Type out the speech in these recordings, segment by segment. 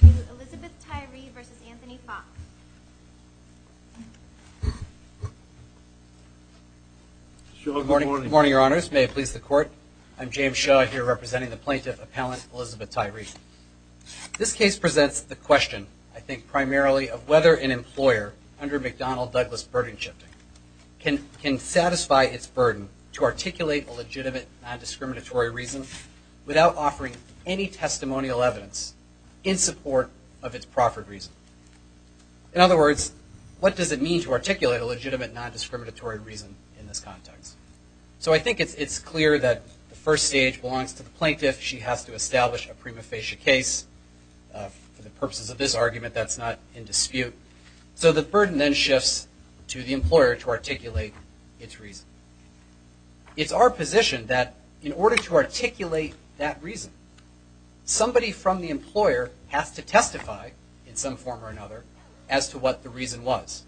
to Elizabeth Tyree v. Anthony Fox. Good morning, your honors. May it please the court. I'm James Shaw, here representing the Plaintiff Appellant Elizabeth Tyree. This case presents the question, I think primarily, of whether an employer under McDonnell-Douglas burden shifting can satisfy its burden to articulate a legitimate non-discriminatory reason without offering any testimonial evidence. In support of its proffered reason. In other words, what does it mean to articulate a legitimate non-discriminatory reason in this context? So I think it's clear that the first stage belongs to the plaintiff. She has to establish a prima facie case. For the purposes of this argument, that's not in dispute. So the burden then shifts to the employer to articulate its reason. It's our position that in order to articulate that reason, somebody from the employer has to testify in some form or another as to what the reason was.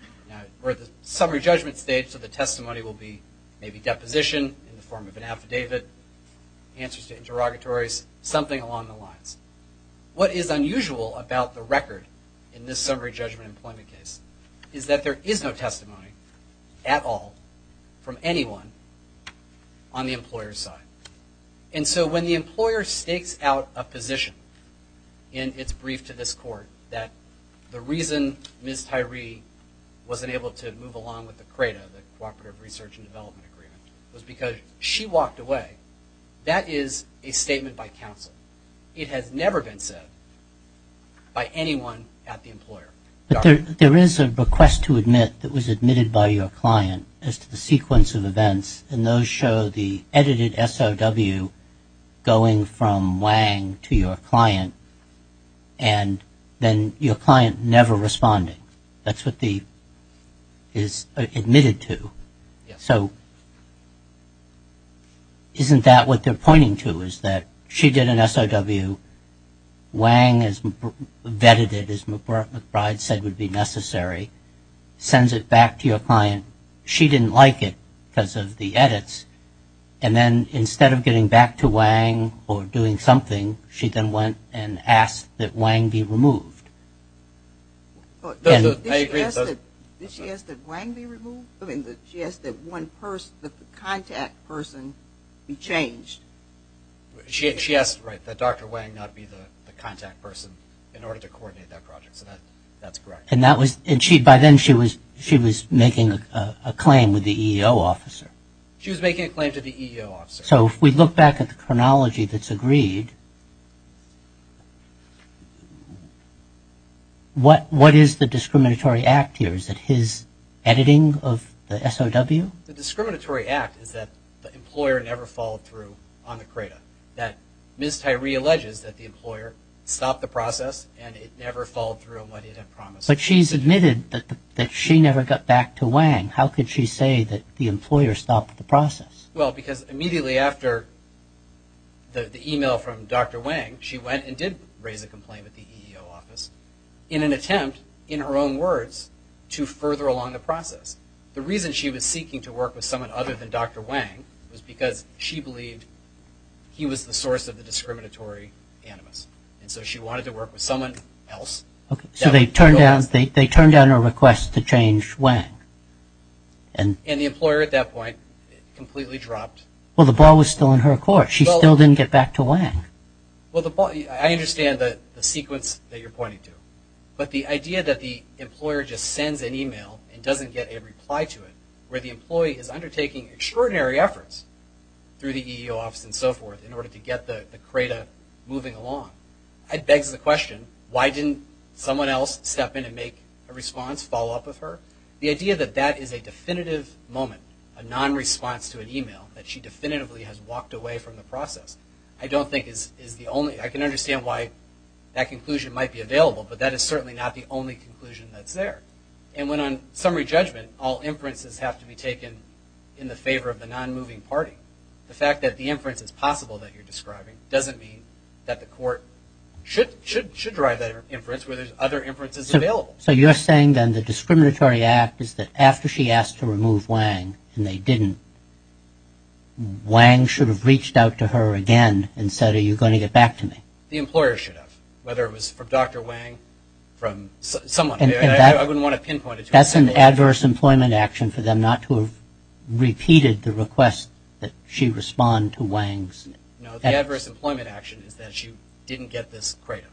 We're at the summary judgment stage, so the testimony will be maybe deposition in the form of an affidavit, answers to interrogatories, something along the lines. What is unusual about the record in this summary judgment employment case is that there is no testimony at all from anyone on the employer's side. And so when the employer stakes out a position in its brief to this court that the reason Ms. Tyree wasn't able to move along with the CRADA, the Cooperative Research and Development Agreement, was because she walked away, that is a statement by counsel. It has never been said by anyone at the employer. But there is a request to admit that was admitted by your client as to the sequence of events, and those show the edited SOW going from Wang to your client, and then your client never responding. That's what the admitted to. So isn't that what they're pointing to is that she did an SOW, Wang has vetted it as McBride said would be necessary, sends it back to your client. She didn't like it because of the edits, and then instead of getting back to Wang or doing something, she then went and asked that Wang be removed. Did she ask that Wang be removed? She asked that one person, the contact person be changed. She asked that Dr. Wang not be the contact person in order to coordinate that project. So that's correct. And by then she was making a claim with the EEO officer. She was making a claim to the EEO officer. So if we look back at the chronology that's agreed, what is the discriminatory act here? Is it his editing of the SOW? The discriminatory act is that the employer never followed through on the CRADA, that Ms. Tyree alleges that the employer stopped the process and it never followed through on what it had promised. But she's admitted that she never got back to Wang. How could she say that the employer stopped the process? Well, because immediately after the email from Dr. Wang, she went and did raise a complaint with the EEO office in an attempt, in her own words, to further along the process. The reason she was seeking to work with someone other than Dr. Wang was because she believed he was the source of the discriminatory animus. And so she wanted to work with someone else. So they turned down a request to change Wang. And the employer at that point completely dropped. Well, the ball was still in her court. She still didn't get back to Wang. Well, I understand the sequence that you're pointing to. But the idea that the employer just sends an email and doesn't get a reply to it, where the employee is undertaking extraordinary efforts through the EEO office and so forth in order to get the CRADA moving along, begs the question, why didn't someone else step in and make a response, follow up with her? The idea that that is a definitive moment, a non-response to an email, that she definitively has walked away from the process, I don't think is the only... I can understand why that conclusion might be available, but that is certainly not the only conclusion that's there. And when on summary judgment, all inferences have to be taken in the favor of the non-moving party. The fact that the inference is possible that you're describing doesn't mean that the court should drive that inference where there's other inferences available. So you're saying then the discriminatory act is that after she asked to remove Wang and they didn't, Wang should have reached out to her again and said, are you going to get back to me? The employer should have, whether it was from Dr. Wang, from someone. I wouldn't want to pinpoint it to anyone. That's an adverse employment action for them not to have repeated the request that she respond to Wang's... No, the adverse employment action is that she didn't get this CRADA.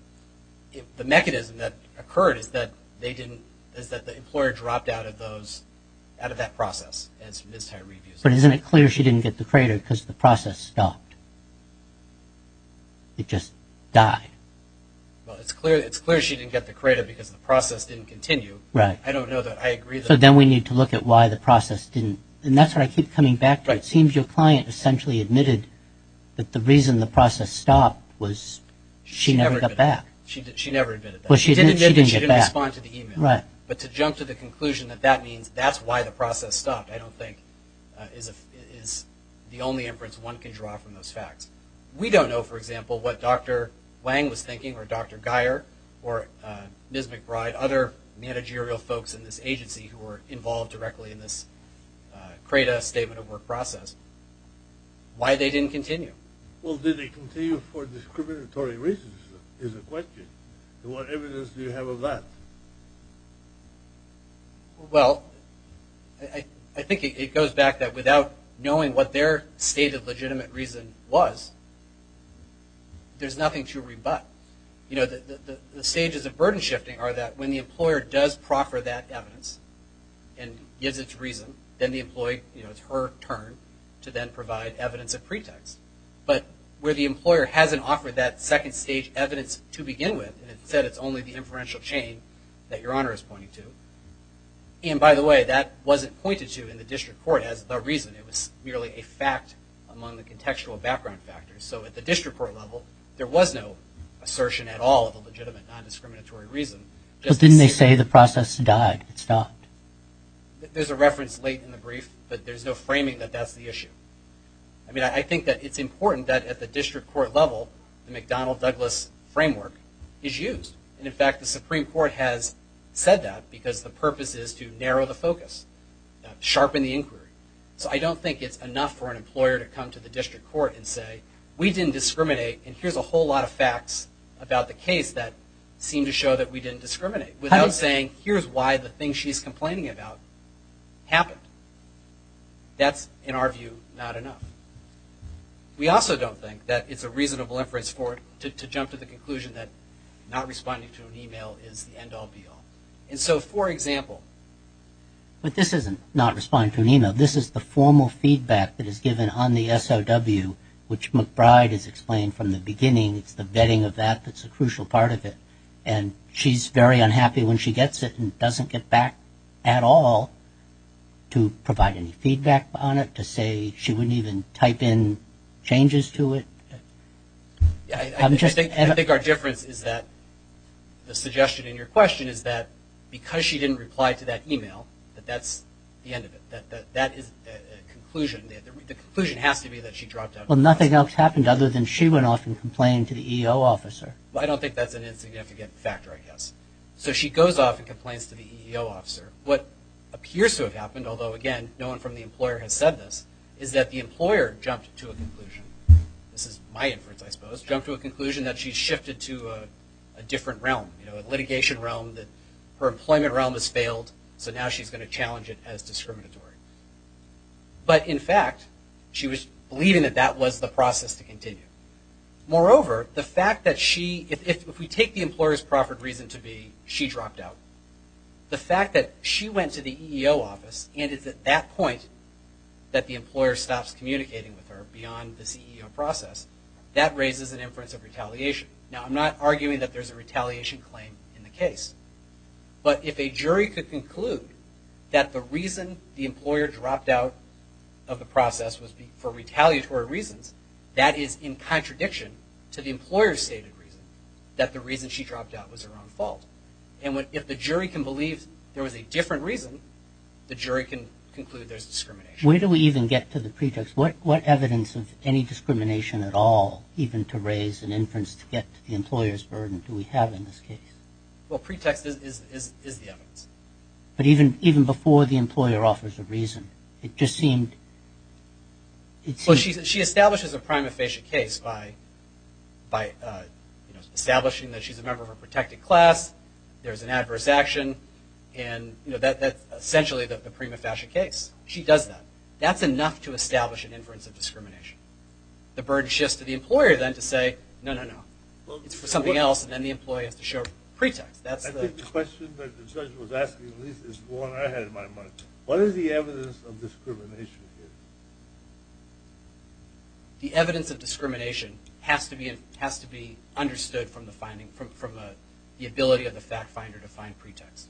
The mechanism that occurred is that they didn't, is that the employer dropped out of those, out of that process, as Ms. Tyree views it. But isn't it clear she didn't get the CRADA because the process stopped? It just died. Well, it's clear she didn't get the CRADA because the process didn't continue. Right. I don't know that I agree with that. So then we need to look at why the process didn't. And that's what I keep coming back to. It seems your client essentially admitted that the reason the process stopped was she never got back. She never admitted that. Well, she did admit that she didn't respond to the email. Right. But to jump to the conclusion that that means that's why the process stopped, I don't think is the only inference one can draw from those facts. We don't know, for example, what Dr. Wang was thinking or Dr. Geyer or Ms. McBride, other managerial folks in this agency who were involved directly in this CRADA statement of work process, why they didn't continue. Well, did they continue for discriminatory reasons is the question. And what evidence do you have of that? Well, I think it goes back that without knowing what their state of legitimate reason was, there's nothing to rebut. You know, the stages of burden shifting are that when the employer does proffer that evidence and gives its reason, then the employee, you know, it's her turn to then provide evidence of pretext. But where the employer hasn't offered that second stage evidence to begin with, and instead it's only the inferential chain that Your Honor is pointing to. And by the way, that wasn't pointed to in the district court as the reason. It was merely a fact among the contextual background factors. So at the district court level, there was no assertion at all of a legitimate, non-discriminatory reason. But didn't they say the process died? It stopped. There's a reference late in the brief, but there's no framing that that's the issue. I mean, I think that it's important that at the district court level, the McDonnell-Douglas framework is used. And, in fact, the Supreme Court has said that because the purpose is to narrow the focus, sharpen the inquiry. So I don't think it's enough for an employer to come to the district court and say, we didn't discriminate and here's a whole lot of facts about the case that seem to show that we didn't discriminate, without saying here's why the thing she's complaining about happened. That's, in our view, not enough. We also don't think that it's a reasonable inference to jump to the conclusion that not responding to an email is the end-all, be-all. And so, for example, this isn't not responding to an email. This is the formal feedback that is given on the SOW, which McBride has explained from the beginning. It's the vetting of that that's a crucial part of it. And she's very unhappy when she gets it and doesn't get back at all to provide any feedback on it, to say she wouldn't even type in changes to it. I think our difference is that the suggestion in your question is that because she didn't reply to that email, that that's the end of it. That is the conclusion. The conclusion has to be that she dropped out. Well, nothing else happened other than she went off and complained to the EEO officer. Well, I don't think that's an insignificant factor, I guess. So she goes off and complains to the EEO officer. What appears to have happened, although, again, no one from the employer has said this, is that the employer jumped to a conclusion. This is my inference, I suppose, jumped to a conclusion that she's shifted to a different realm, a litigation realm that her employment realm has failed, so now she's going to challenge it as discriminatory. But, in fact, she was believing that that was the process to continue. Moreover, the fact that she, if we take the employer's proper reason to be, she dropped out. The fact that she went to the EEO office, and it's at that point that the employer stops communicating with her beyond the CEO process, that raises an inference of retaliation. Now, I'm not arguing that there's a retaliation claim in the case. But if a jury could conclude that the reason the employer dropped out of the process was for retaliatory reasons, that is in contradiction to the employer's stated reason, that the reason she dropped out was her own fault. And if the jury can believe there was a different reason, the jury can conclude there's discrimination. Where do we even get to the pretext? What evidence of any discrimination at all, even to raise an inference to get to the employer's burden, do we have in this case? Well, pretext is the evidence. But even before the employer offers a reason, it just seemed... Well, she establishes a prima facie case by establishing that she's a member of a protected class, there's an adverse action, and that's essentially the prima facie case. She does that. That's enough to establish an inference of discrimination. The burden shifts to the employer, then, to say, no, no, no. It's for something else, and then the employer has to show pretext. I think the question that the judge was asking, at least, is one I had in my mind. What is the evidence of discrimination here? The evidence of discrimination has to be understood from the ability of the fact finder to find pretext.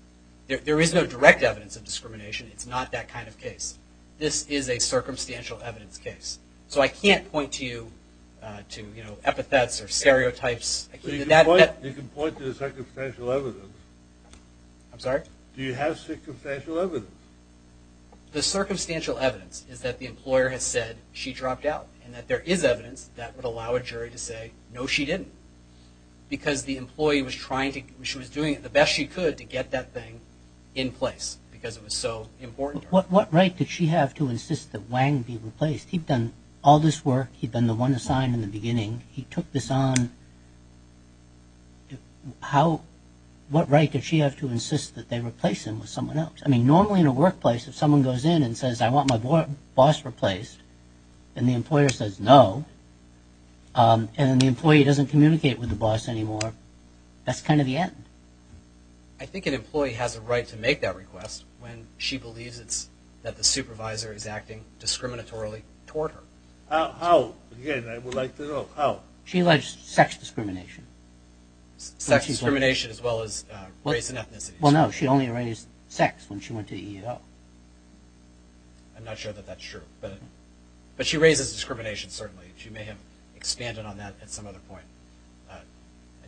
There is no direct evidence of discrimination. It's not that kind of case. This is a circumstantial evidence case. So I can't point to you to epithets or stereotypes. I'm sorry? Do you have circumstantial evidence? The circumstantial evidence is that the employer has said she dropped out, and that there is evidence that would allow a jury to say, no, she didn't, because the employee was doing the best she could to get that thing in place because it was so important to her. What right did she have to insist that Wang be replaced? He'd done all this work. He'd been the one assigned in the beginning. He took this on. What right did she have to insist that they replace him with someone else? I mean, normally in a workplace, if someone goes in and says, I want my boss replaced, and the employer says no, and then the employee doesn't communicate with the boss anymore, that's kind of the end. I think an employee has a right to make that request when she believes that the supervisor is acting discriminatorily toward her. How? Again, I would like to know how. She alleged sex discrimination. Sex discrimination as well as race and ethnicity. Well, no, she only raised sex when she went to EEO. I'm not sure that that's true, but she raises discrimination, certainly. She may have expanded on that at some other point. I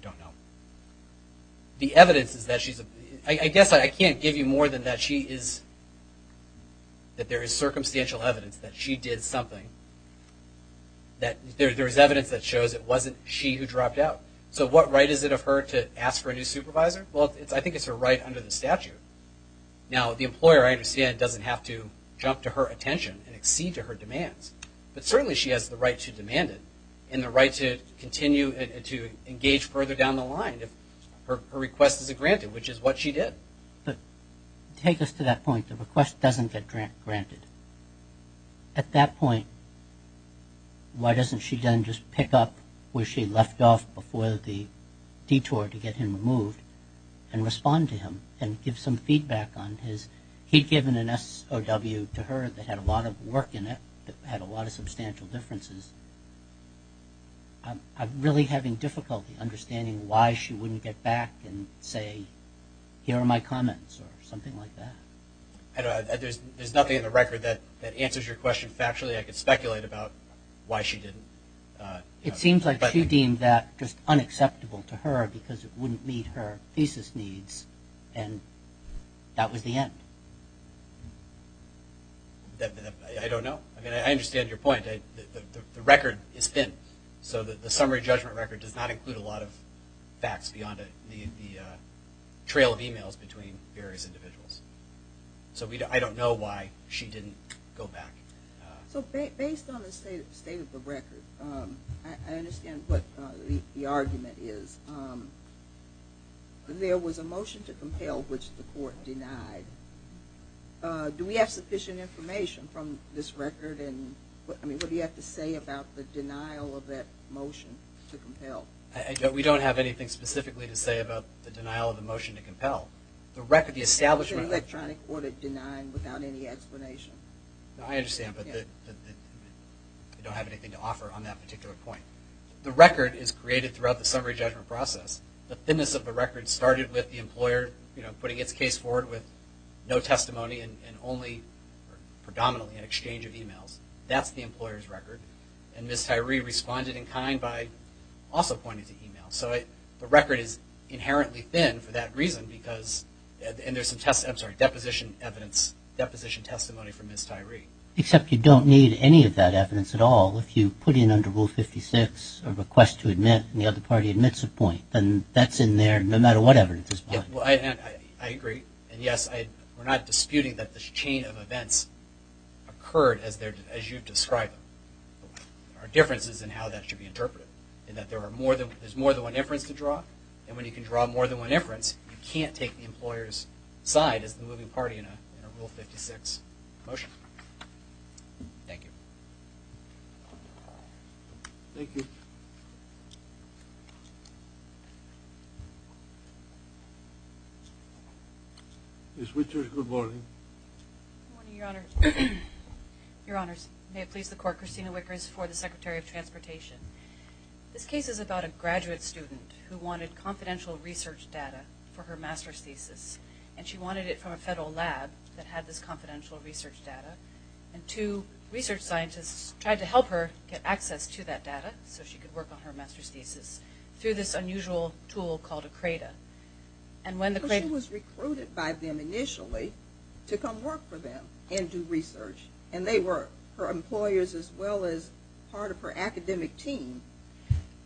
don't know. The evidence is that she's a – I guess I can't give you more than that. She is – that there is circumstantial evidence that she did something. There is evidence that shows it wasn't she who dropped out. So what right is it of her to ask for a new supervisor? Well, I think it's her right under the statute. Now, the employer, I understand, doesn't have to jump to her attention and exceed to her demands, but certainly she has the right to demand it and the right to continue and to engage further down the line if her request is granted, which is what she did. But take us to that point, the request doesn't get granted. At that point, why doesn't she then just pick up where she left off before the detour to get him removed and respond to him and give some feedback on his – he'd given an SOW to her that had a lot of work in it that had a lot of substantial differences. I'm really having difficulty understanding why she wouldn't get back and say, here are my comments or something like that. There's nothing in the record that answers your question factually. I could speculate about why she didn't. It seems like she deemed that just unacceptable to her because it wouldn't meet her thesis needs, and that was the end. I don't know. I mean, I understand your point. The record is thin, so the summary judgment record does not include a lot of facts beyond the trail of emails between various individuals. So I don't know why she didn't go back. So based on the state of the record, I understand what the argument is. There was a motion to compel which the court denied. Do we have sufficient information from this record? And, I mean, what do you have to say about the denial of that motion to compel? We don't have anything specifically to say about the denial of the motion to compel. It's an electronic order denied without any explanation. I understand, but I don't have anything to offer on that particular point. The record is created throughout the summary judgment process. The thinness of the record started with the employer putting its case forward with no testimony and only predominantly an exchange of emails. That's the employer's record. And Ms. Tyree responded in kind by also pointing to emails. So the record is inherently thin for that reason, and there's some deposition evidence, deposition testimony from Ms. Tyree. Except you don't need any of that evidence at all if you put in under Rule 56 a request to admit and the other party admits a point, then that's in there no matter what evidence is put. I agree, and, yes, we're not disputing that this chain of events occurred as you've described them. There are differences in how that should be interpreted, in that there's more than one inference to draw, and when you can draw more than one inference, you can't take the employer's side as the moving party in a Rule 56 motion. Thank you. Thank you. Ms. Wickers, good morning. Good morning, Your Honor. Your Honors, may it please the Court, Christina Wickers for the Secretary of Transportation. This case is about a graduate student who wanted confidential research data for her master's thesis, and she wanted it from a federal lab that had this confidential research data, and two research scientists tried to help her get access to that data so she could work on her master's thesis through this unusual tool called a CRADA. So she was recruited by them initially to come work for them and do research, and they were her employers as well as part of her academic team?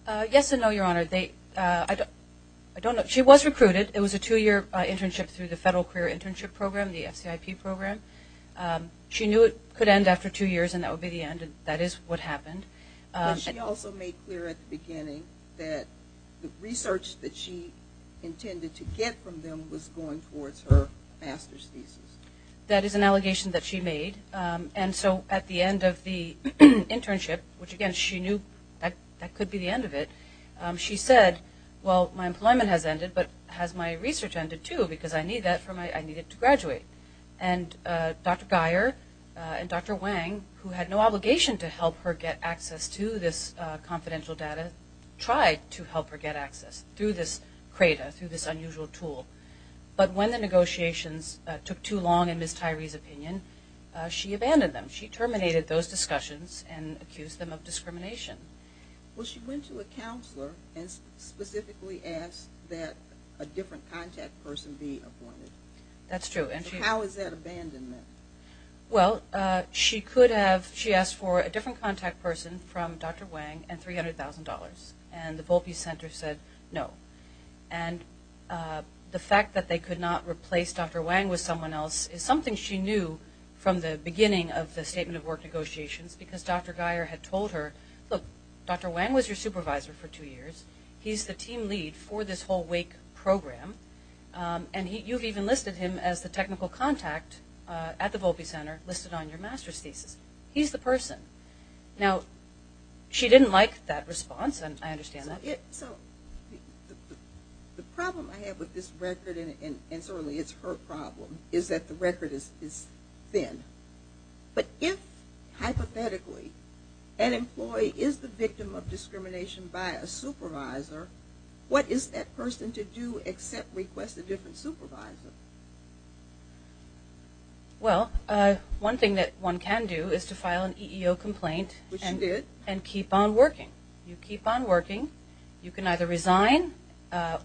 Yes and no, Your Honor. She was recruited. It was a two-year internship through the Federal Career Internship Program, the FCIP program. She knew it could end after two years, and that would be the end, and that is what happened. But she also made clear at the beginning that the research that she intended to get from them was going towards her master's thesis. That is an allegation that she made. And so at the end of the internship, which, again, she knew that that could be the end of it, she said, well, my employment has ended, but has my research ended too because I need it to graduate? And Dr. Geyer and Dr. Wang, who had no obligation to help her get access to this confidential data, tried to help her get access through this CRADA, through this unusual tool. But when the negotiations took too long, in Ms. Tyree's opinion, she abandoned them. She terminated those discussions and accused them of discrimination. Well, she went to a counselor and specifically asked that a different contact person be appointed. That's true. How is that abandonment? Well, she asked for a different contact person from Dr. Wang and $300,000, and the Volpe Center said no. And the fact that they could not replace Dr. Wang with someone else is something she knew from the beginning of the Statement of Work negotiations because Dr. Geyer had told her, look, Dr. Wang was your supervisor for two years. He's the team lead for this whole WAKE program. And you've even listed him as the technical contact at the Volpe Center listed on your master's thesis. He's the person. Now, she didn't like that response, and I understand that. So the problem I have with this record, and certainly it's her problem, is that the record is thin. But if, hypothetically, an employee is the victim of discrimination by a supervisor, what is that person to do except request a different supervisor? Well, one thing that one can do is to file an EEO complaint and keep on working. You keep on working. You can either resign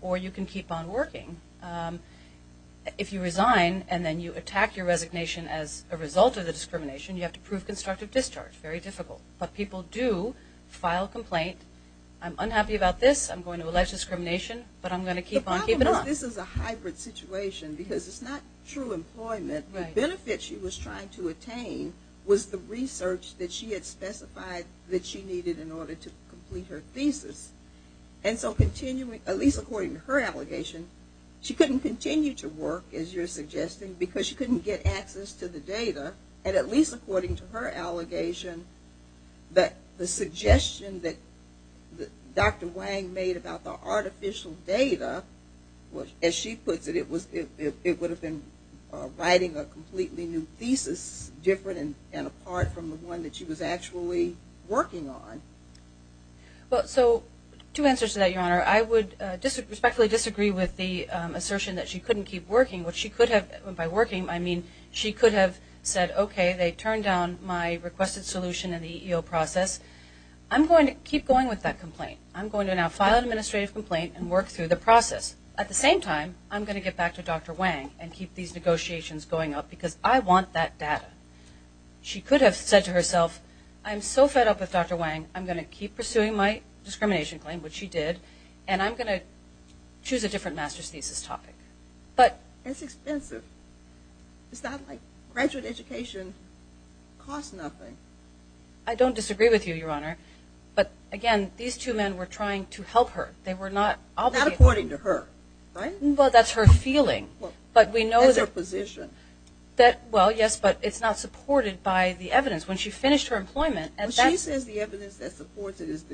or you can keep on working. If you resign and then you attack your resignation as a result of the discrimination, you have to prove constructive discharge. Very difficult. But people do file a complaint. I'm unhappy about this. I'm going to allege discrimination, but I'm going to keep on keeping on. The problem is this is a hybrid situation because it's not true employment. The benefit she was trying to attain was the research that she had specified that she needed in order to complete her thesis. At least according to her allegation, she couldn't continue to work, as you're suggesting, because she couldn't get access to the data. And at least according to her allegation, the suggestion that Dr. Wang made about the artificial data, as she puts it, it would have been writing a completely new thesis, different and apart from the one that she was actually working on. Well, so two answers to that, Your Honor. I would respectfully disagree with the assertion that she couldn't keep working. By working, I mean she could have said, okay, they turned down my requested solution in the EEO process. I'm going to keep going with that complaint. I'm going to now file an administrative complaint and work through the process. At the same time, I'm going to get back to Dr. Wang and keep these negotiations going up because I want that data. She could have said to herself, I'm so fed up with Dr. Wang. I'm going to keep pursuing my discrimination claim, which she did, and I'm going to choose a different master's thesis topic. It's expensive. It's not like graduate education costs nothing. I don't disagree with you, Your Honor. But, again, these two men were trying to help her. They were not obligated. Not according to her, right? Well, that's her feeling. That's her position. Well, yes, but it's not supported by the evidence. When she finished her employment, and that's- She says the evidence that supports it is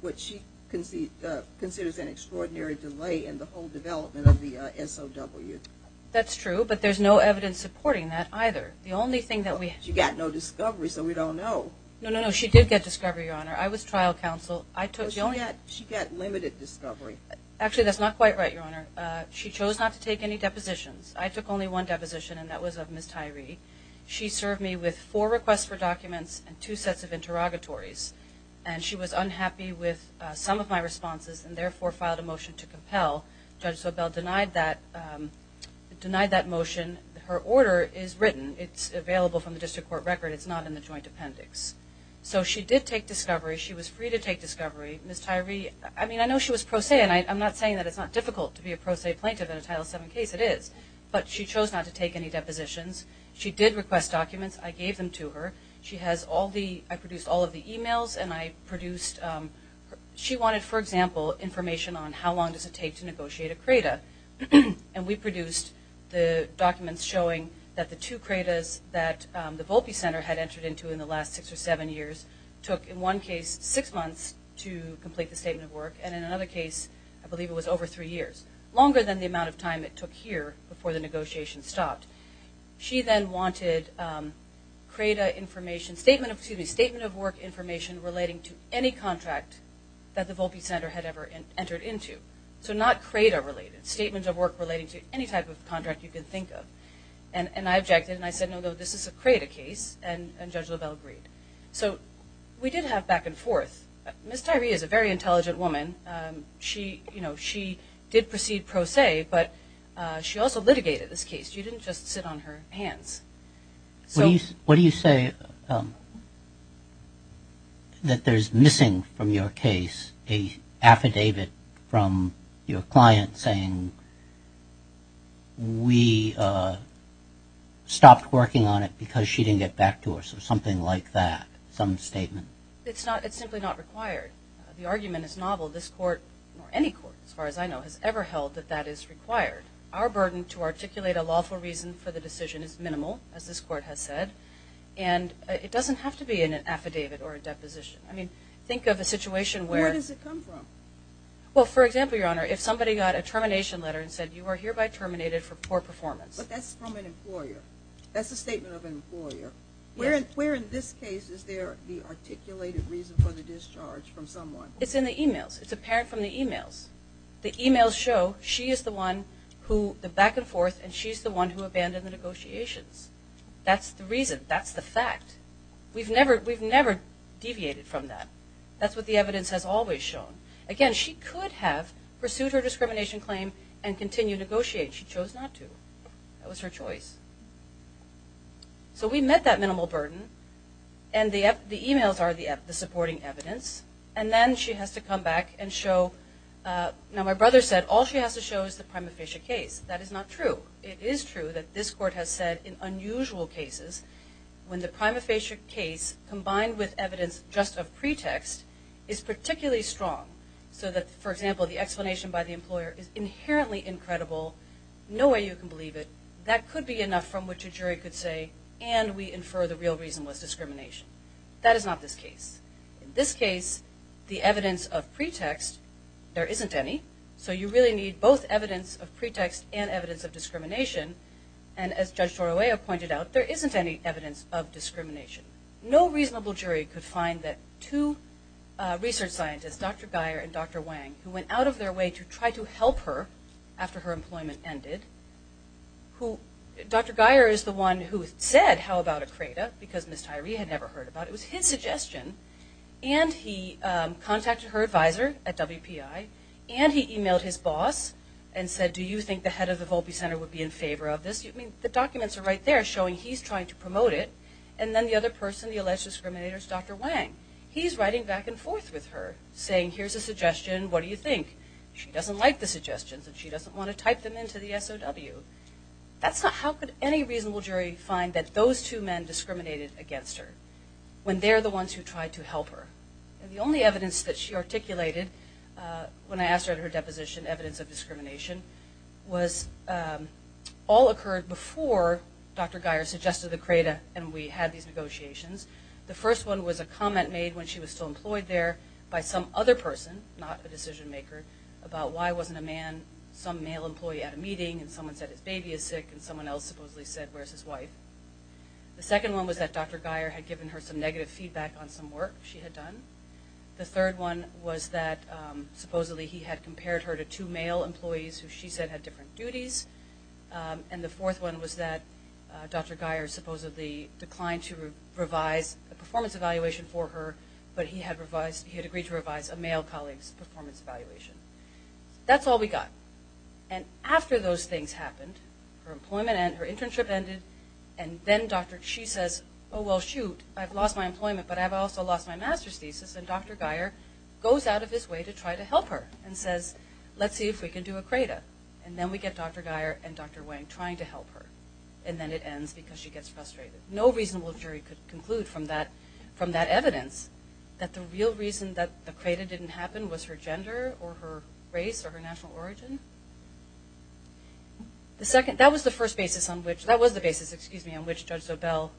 what she considers an extraordinary delay in the whole development of the SOW. That's true, but there's no evidence supporting that either. The only thing that we- She got no discovery, so we don't know. No, no, no. She did get discovery, Your Honor. I was trial counsel. I took the only- She got limited discovery. Actually, that's not quite right, Your Honor. She chose not to take any depositions. I took only one deposition, and that was of Ms. Tyree. She served me with four requests for documents and two sets of interrogatories, and she was unhappy with some of my responses and, therefore, filed a motion to compel. Judge Sobel denied that motion. Her order is written. It's available from the district court record. It's not in the joint appendix. So she did take discovery. She was free to take discovery. Ms. Tyree- I mean, I know she was pro se, and I'm not saying that it's not difficult to be a pro se plaintiff in a Title VII case. It is. But she chose not to take any depositions. She did request documents. I gave them to her. She has all the-I produced all of the e-mails, and I produced-she wanted, for example, information on how long does it take to negotiate a CRADA, and we produced the documents showing that the two CRADAs that the Volpe Center had entered into in the last six or seven years took, in one case, six months to complete the statement of work, and in another case, I believe it was over three years, longer than the amount of time it took here before the negotiation stopped. She then wanted CRADA information-statement of, excuse me, statement of work information relating to any contract that the Volpe Center had ever entered into. So not CRADA related, statements of work relating to any type of contract you can think of. And I objected, and I said, no, no, this is a CRADA case, and Judge Lovell agreed. So we did have back and forth. Ms. Tyree is a very intelligent woman. She, you know, she did proceed pro se, but she also litigated this case. She didn't just sit on her hands. So- What do you say that there's missing from your case an affidavit from your client saying, we stopped working on it because she didn't get back to us, or something like that, some statement? It's not-it's simply not required. The argument is novel. This court, or any court as far as I know, has ever held that that is required. Our burden to articulate a lawful reason for the decision is minimal, as this court has said, and it doesn't have to be in an affidavit or a deposition. I mean, think of a situation where- Where does it come from? Well, for example, Your Honor, if somebody got a termination letter and said, you are hereby terminated for poor performance- But that's from an employer. That's a statement of an employer. Yes. Where in this case is there the articulated reason for the discharge from someone? It's in the e-mails. It's apparent from the e-mails. The e-mails show she is the one who-the back and forth, and she's the one who abandoned the negotiations. That's the reason. That's the fact. We've never deviated from that. That's what the evidence has always shown. Again, she could have pursued her discrimination claim and continued to negotiate. She chose not to. That was her choice. So we met that minimal burden, and the e-mails are the supporting evidence, and then she has to come back and show- Now, my brother said all she has to show is the prima facie case. That is not true. It is true that this Court has said in unusual cases, when the prima facie case, combined with evidence just of pretext, is particularly strong. So that, for example, the explanation by the employer is inherently incredible. No way you can believe it. That could be enough from which a jury could say, and we infer the real reason was discrimination. That is not this case. In this case, the evidence of pretext, there isn't any, so you really need both evidence of pretext and evidence of discrimination. And as Judge Torroya pointed out, there isn't any evidence of discrimination. No reasonable jury could find that two research scientists, Dr. Geyer and Dr. Wang, who went out of their way to try to help her after her employment ended. Dr. Geyer is the one who said, how about a CRADA, because Ms. Tyree had never heard about it. It was his suggestion, and he contacted her advisor at WPI, and he e-mailed his boss and said, do you think the head of the Volpe Center would be in favor of this? The documents are right there showing he's trying to promote it, and then the other person, the alleged discriminator is Dr. Wang. He's writing back and forth with her, saying, here's a suggestion, what do you think? She doesn't like the suggestions, and she doesn't want to type them into the SOW. That's not how could any reasonable jury find that those two men discriminated against her, when they're the ones who tried to help her. And the only evidence that she articulated, when I asked her at her deposition evidence of discrimination, was all occurred before Dr. Geyer suggested the CRADA, and we had these negotiations. The first one was a comment made when she was still employed there by some other person, not a decision maker, about why wasn't a man, some male employee at a meeting, and someone said his baby is sick, and someone else supposedly said, where's his wife? The second one was that Dr. Geyer had given her some negative feedback on some work she had done. The third one was that supposedly he had compared her to two male employees who she said had different duties. And the fourth one was that Dr. Geyer supposedly declined to revise a performance evaluation for her, but he had agreed to revise a male colleague's performance evaluation. That's all we got. And after those things happened, her internship ended, and then she says, oh, well, shoot, I've lost my employment, but I've also lost my master's thesis, and Dr. Geyer goes out of his way to try to help her and says, let's see if we can do a CRADA. And then we get Dr. Geyer and Dr. Wang trying to help her, and then it ends because she gets frustrated. No reasonable jury could conclude from that evidence that the real reason that the CRADA didn't happen was her gender or her race or her national origin. That was the basis on which Judge Sobel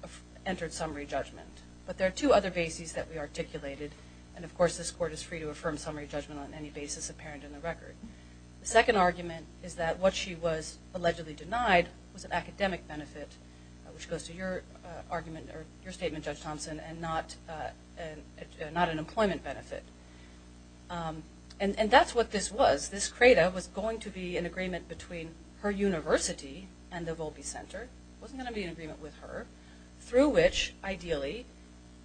entered summary judgment. But there are two other bases that we articulated, and of course this court is free to affirm summary judgment on any basis apparent in the record. The second argument is that what she was allegedly denied was an academic benefit, which goes to your argument or your statement, Judge Thompson, and not an employment benefit. And that's what this was. This CRADA was going to be an agreement between her university and the Volpe Center. It wasn't going to be an agreement with her, through which ideally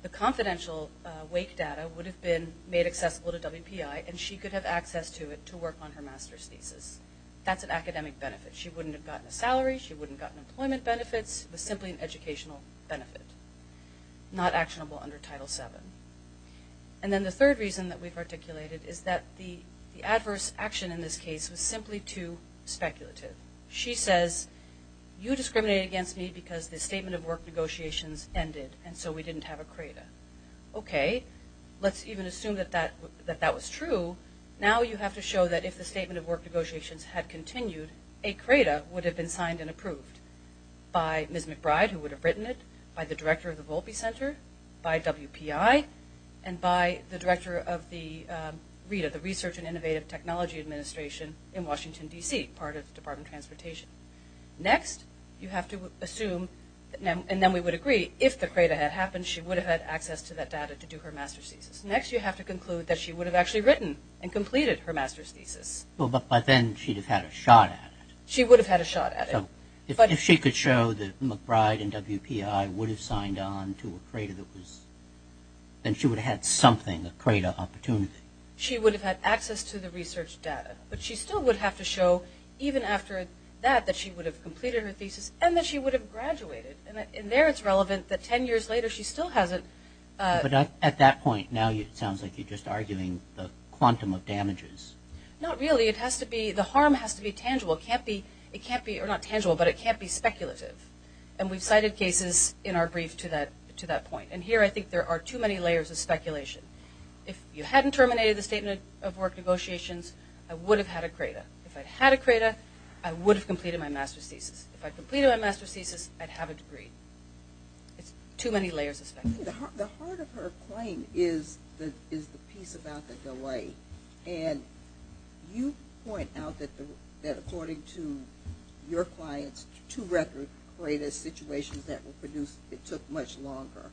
the confidential wake data would have been made accessible to WPI, and she could have access to it to work on her master's thesis. That's an academic benefit. She wouldn't have gotten a salary. She wouldn't have gotten employment benefits. It was simply an educational benefit, not actionable under Title VII. And then the third reason that we've articulated is that the adverse action in this case was simply too speculative. She says, you discriminate against me because the statement of work negotiations ended, and so we didn't have a CRADA. Okay, let's even assume that that was true. Now you have to show that if the statement of work negotiations had continued, a CRADA would have been signed and approved by Ms. McBride, who would have written it, by the director of the Volpe Center, by WPI, and by the director of the RETA, the Research and Innovative Technology Administration in Washington, D.C., part of the Department of Transportation. Next you have to assume, and then we would agree, if the CRADA had happened, she would have had access to that data to do her master's thesis. Next you have to conclude that she would have actually written and completed her master's thesis. Well, but then she would have had a shot at it. She would have had a shot at it. If she could show that McBride and WPI would have signed on to a CRADA, then she would have had something, a CRADA opportunity. She would have had access to the research data, but she still would have to show even after that that she would have completed her thesis and that she would have graduated. And there it's relevant that 10 years later she still hasn't. But at that point now it sounds like you're just arguing the quantum of damages. Not really. It has to be – the harm has to be tangible. It can't be – or not tangible, but it can't be speculative. And we've cited cases in our brief to that point. And here I think there are too many layers of speculation. If you hadn't terminated the Statement of Work Negotiations, I would have had a CRADA. If I had a CRADA, I would have completed my master's thesis. If I completed my master's thesis, I'd have a degree. It's too many layers of speculation. The heart of her claim is the piece about the delay. And you point out that according to your clients, two record CRADA situations that were produced, it took much longer.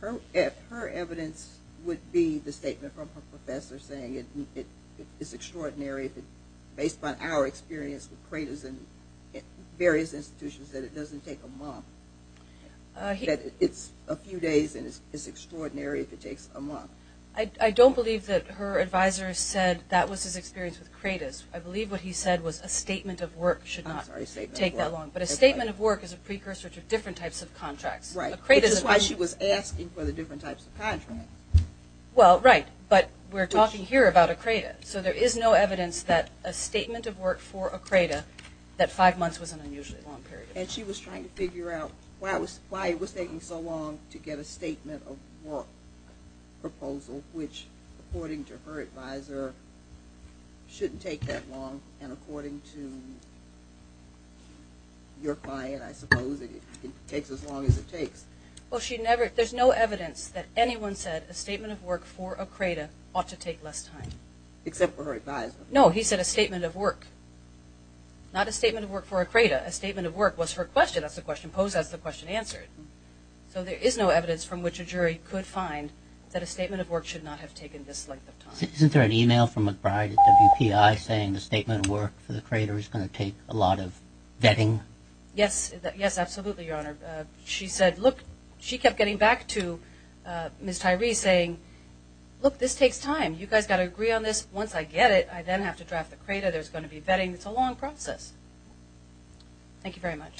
Her evidence would be the statement from her professor saying it's extraordinary, based on our experience with CRADAs in various institutions, that it doesn't take a month. That it's a few days and it's extraordinary if it takes a month. I don't believe that her advisor said that was his experience with CRADAs. I believe what he said was a statement of work should not take that long. But a statement of work is a precursor to different types of contracts. Right. Which is why she was asking for the different types of contracts. Well, right. But we're talking here about a CRADA. So there is no evidence that a statement of work for a CRADA, that five months was an unusually long period of time. And she was trying to figure out why it was taking so long to get a statement of work proposal, which, according to her advisor, shouldn't take that long. And according to your client, I suppose, it takes as long as it takes. Well, there's no evidence that anyone said a statement of work for a CRADA ought to take less time. Except for her advisor. No, he said a statement of work. Not a statement of work for a CRADA. A statement of work was her question. That's the question posed. That's the question answered. So there is no evidence from which a jury could find that a statement of work should not have taken this length of time. Isn't there an e-mail from McBride at WPI saying the statement of work for the CRADA is going to take a lot of vetting? Yes. Yes, absolutely, Your Honor. She said, look, she kept getting back to Ms. Tyree saying, look, this takes time. You guys got to agree on this. Once I get it, I then have to draft the CRADA. There's going to be vetting. It's a long process. Thank you very much.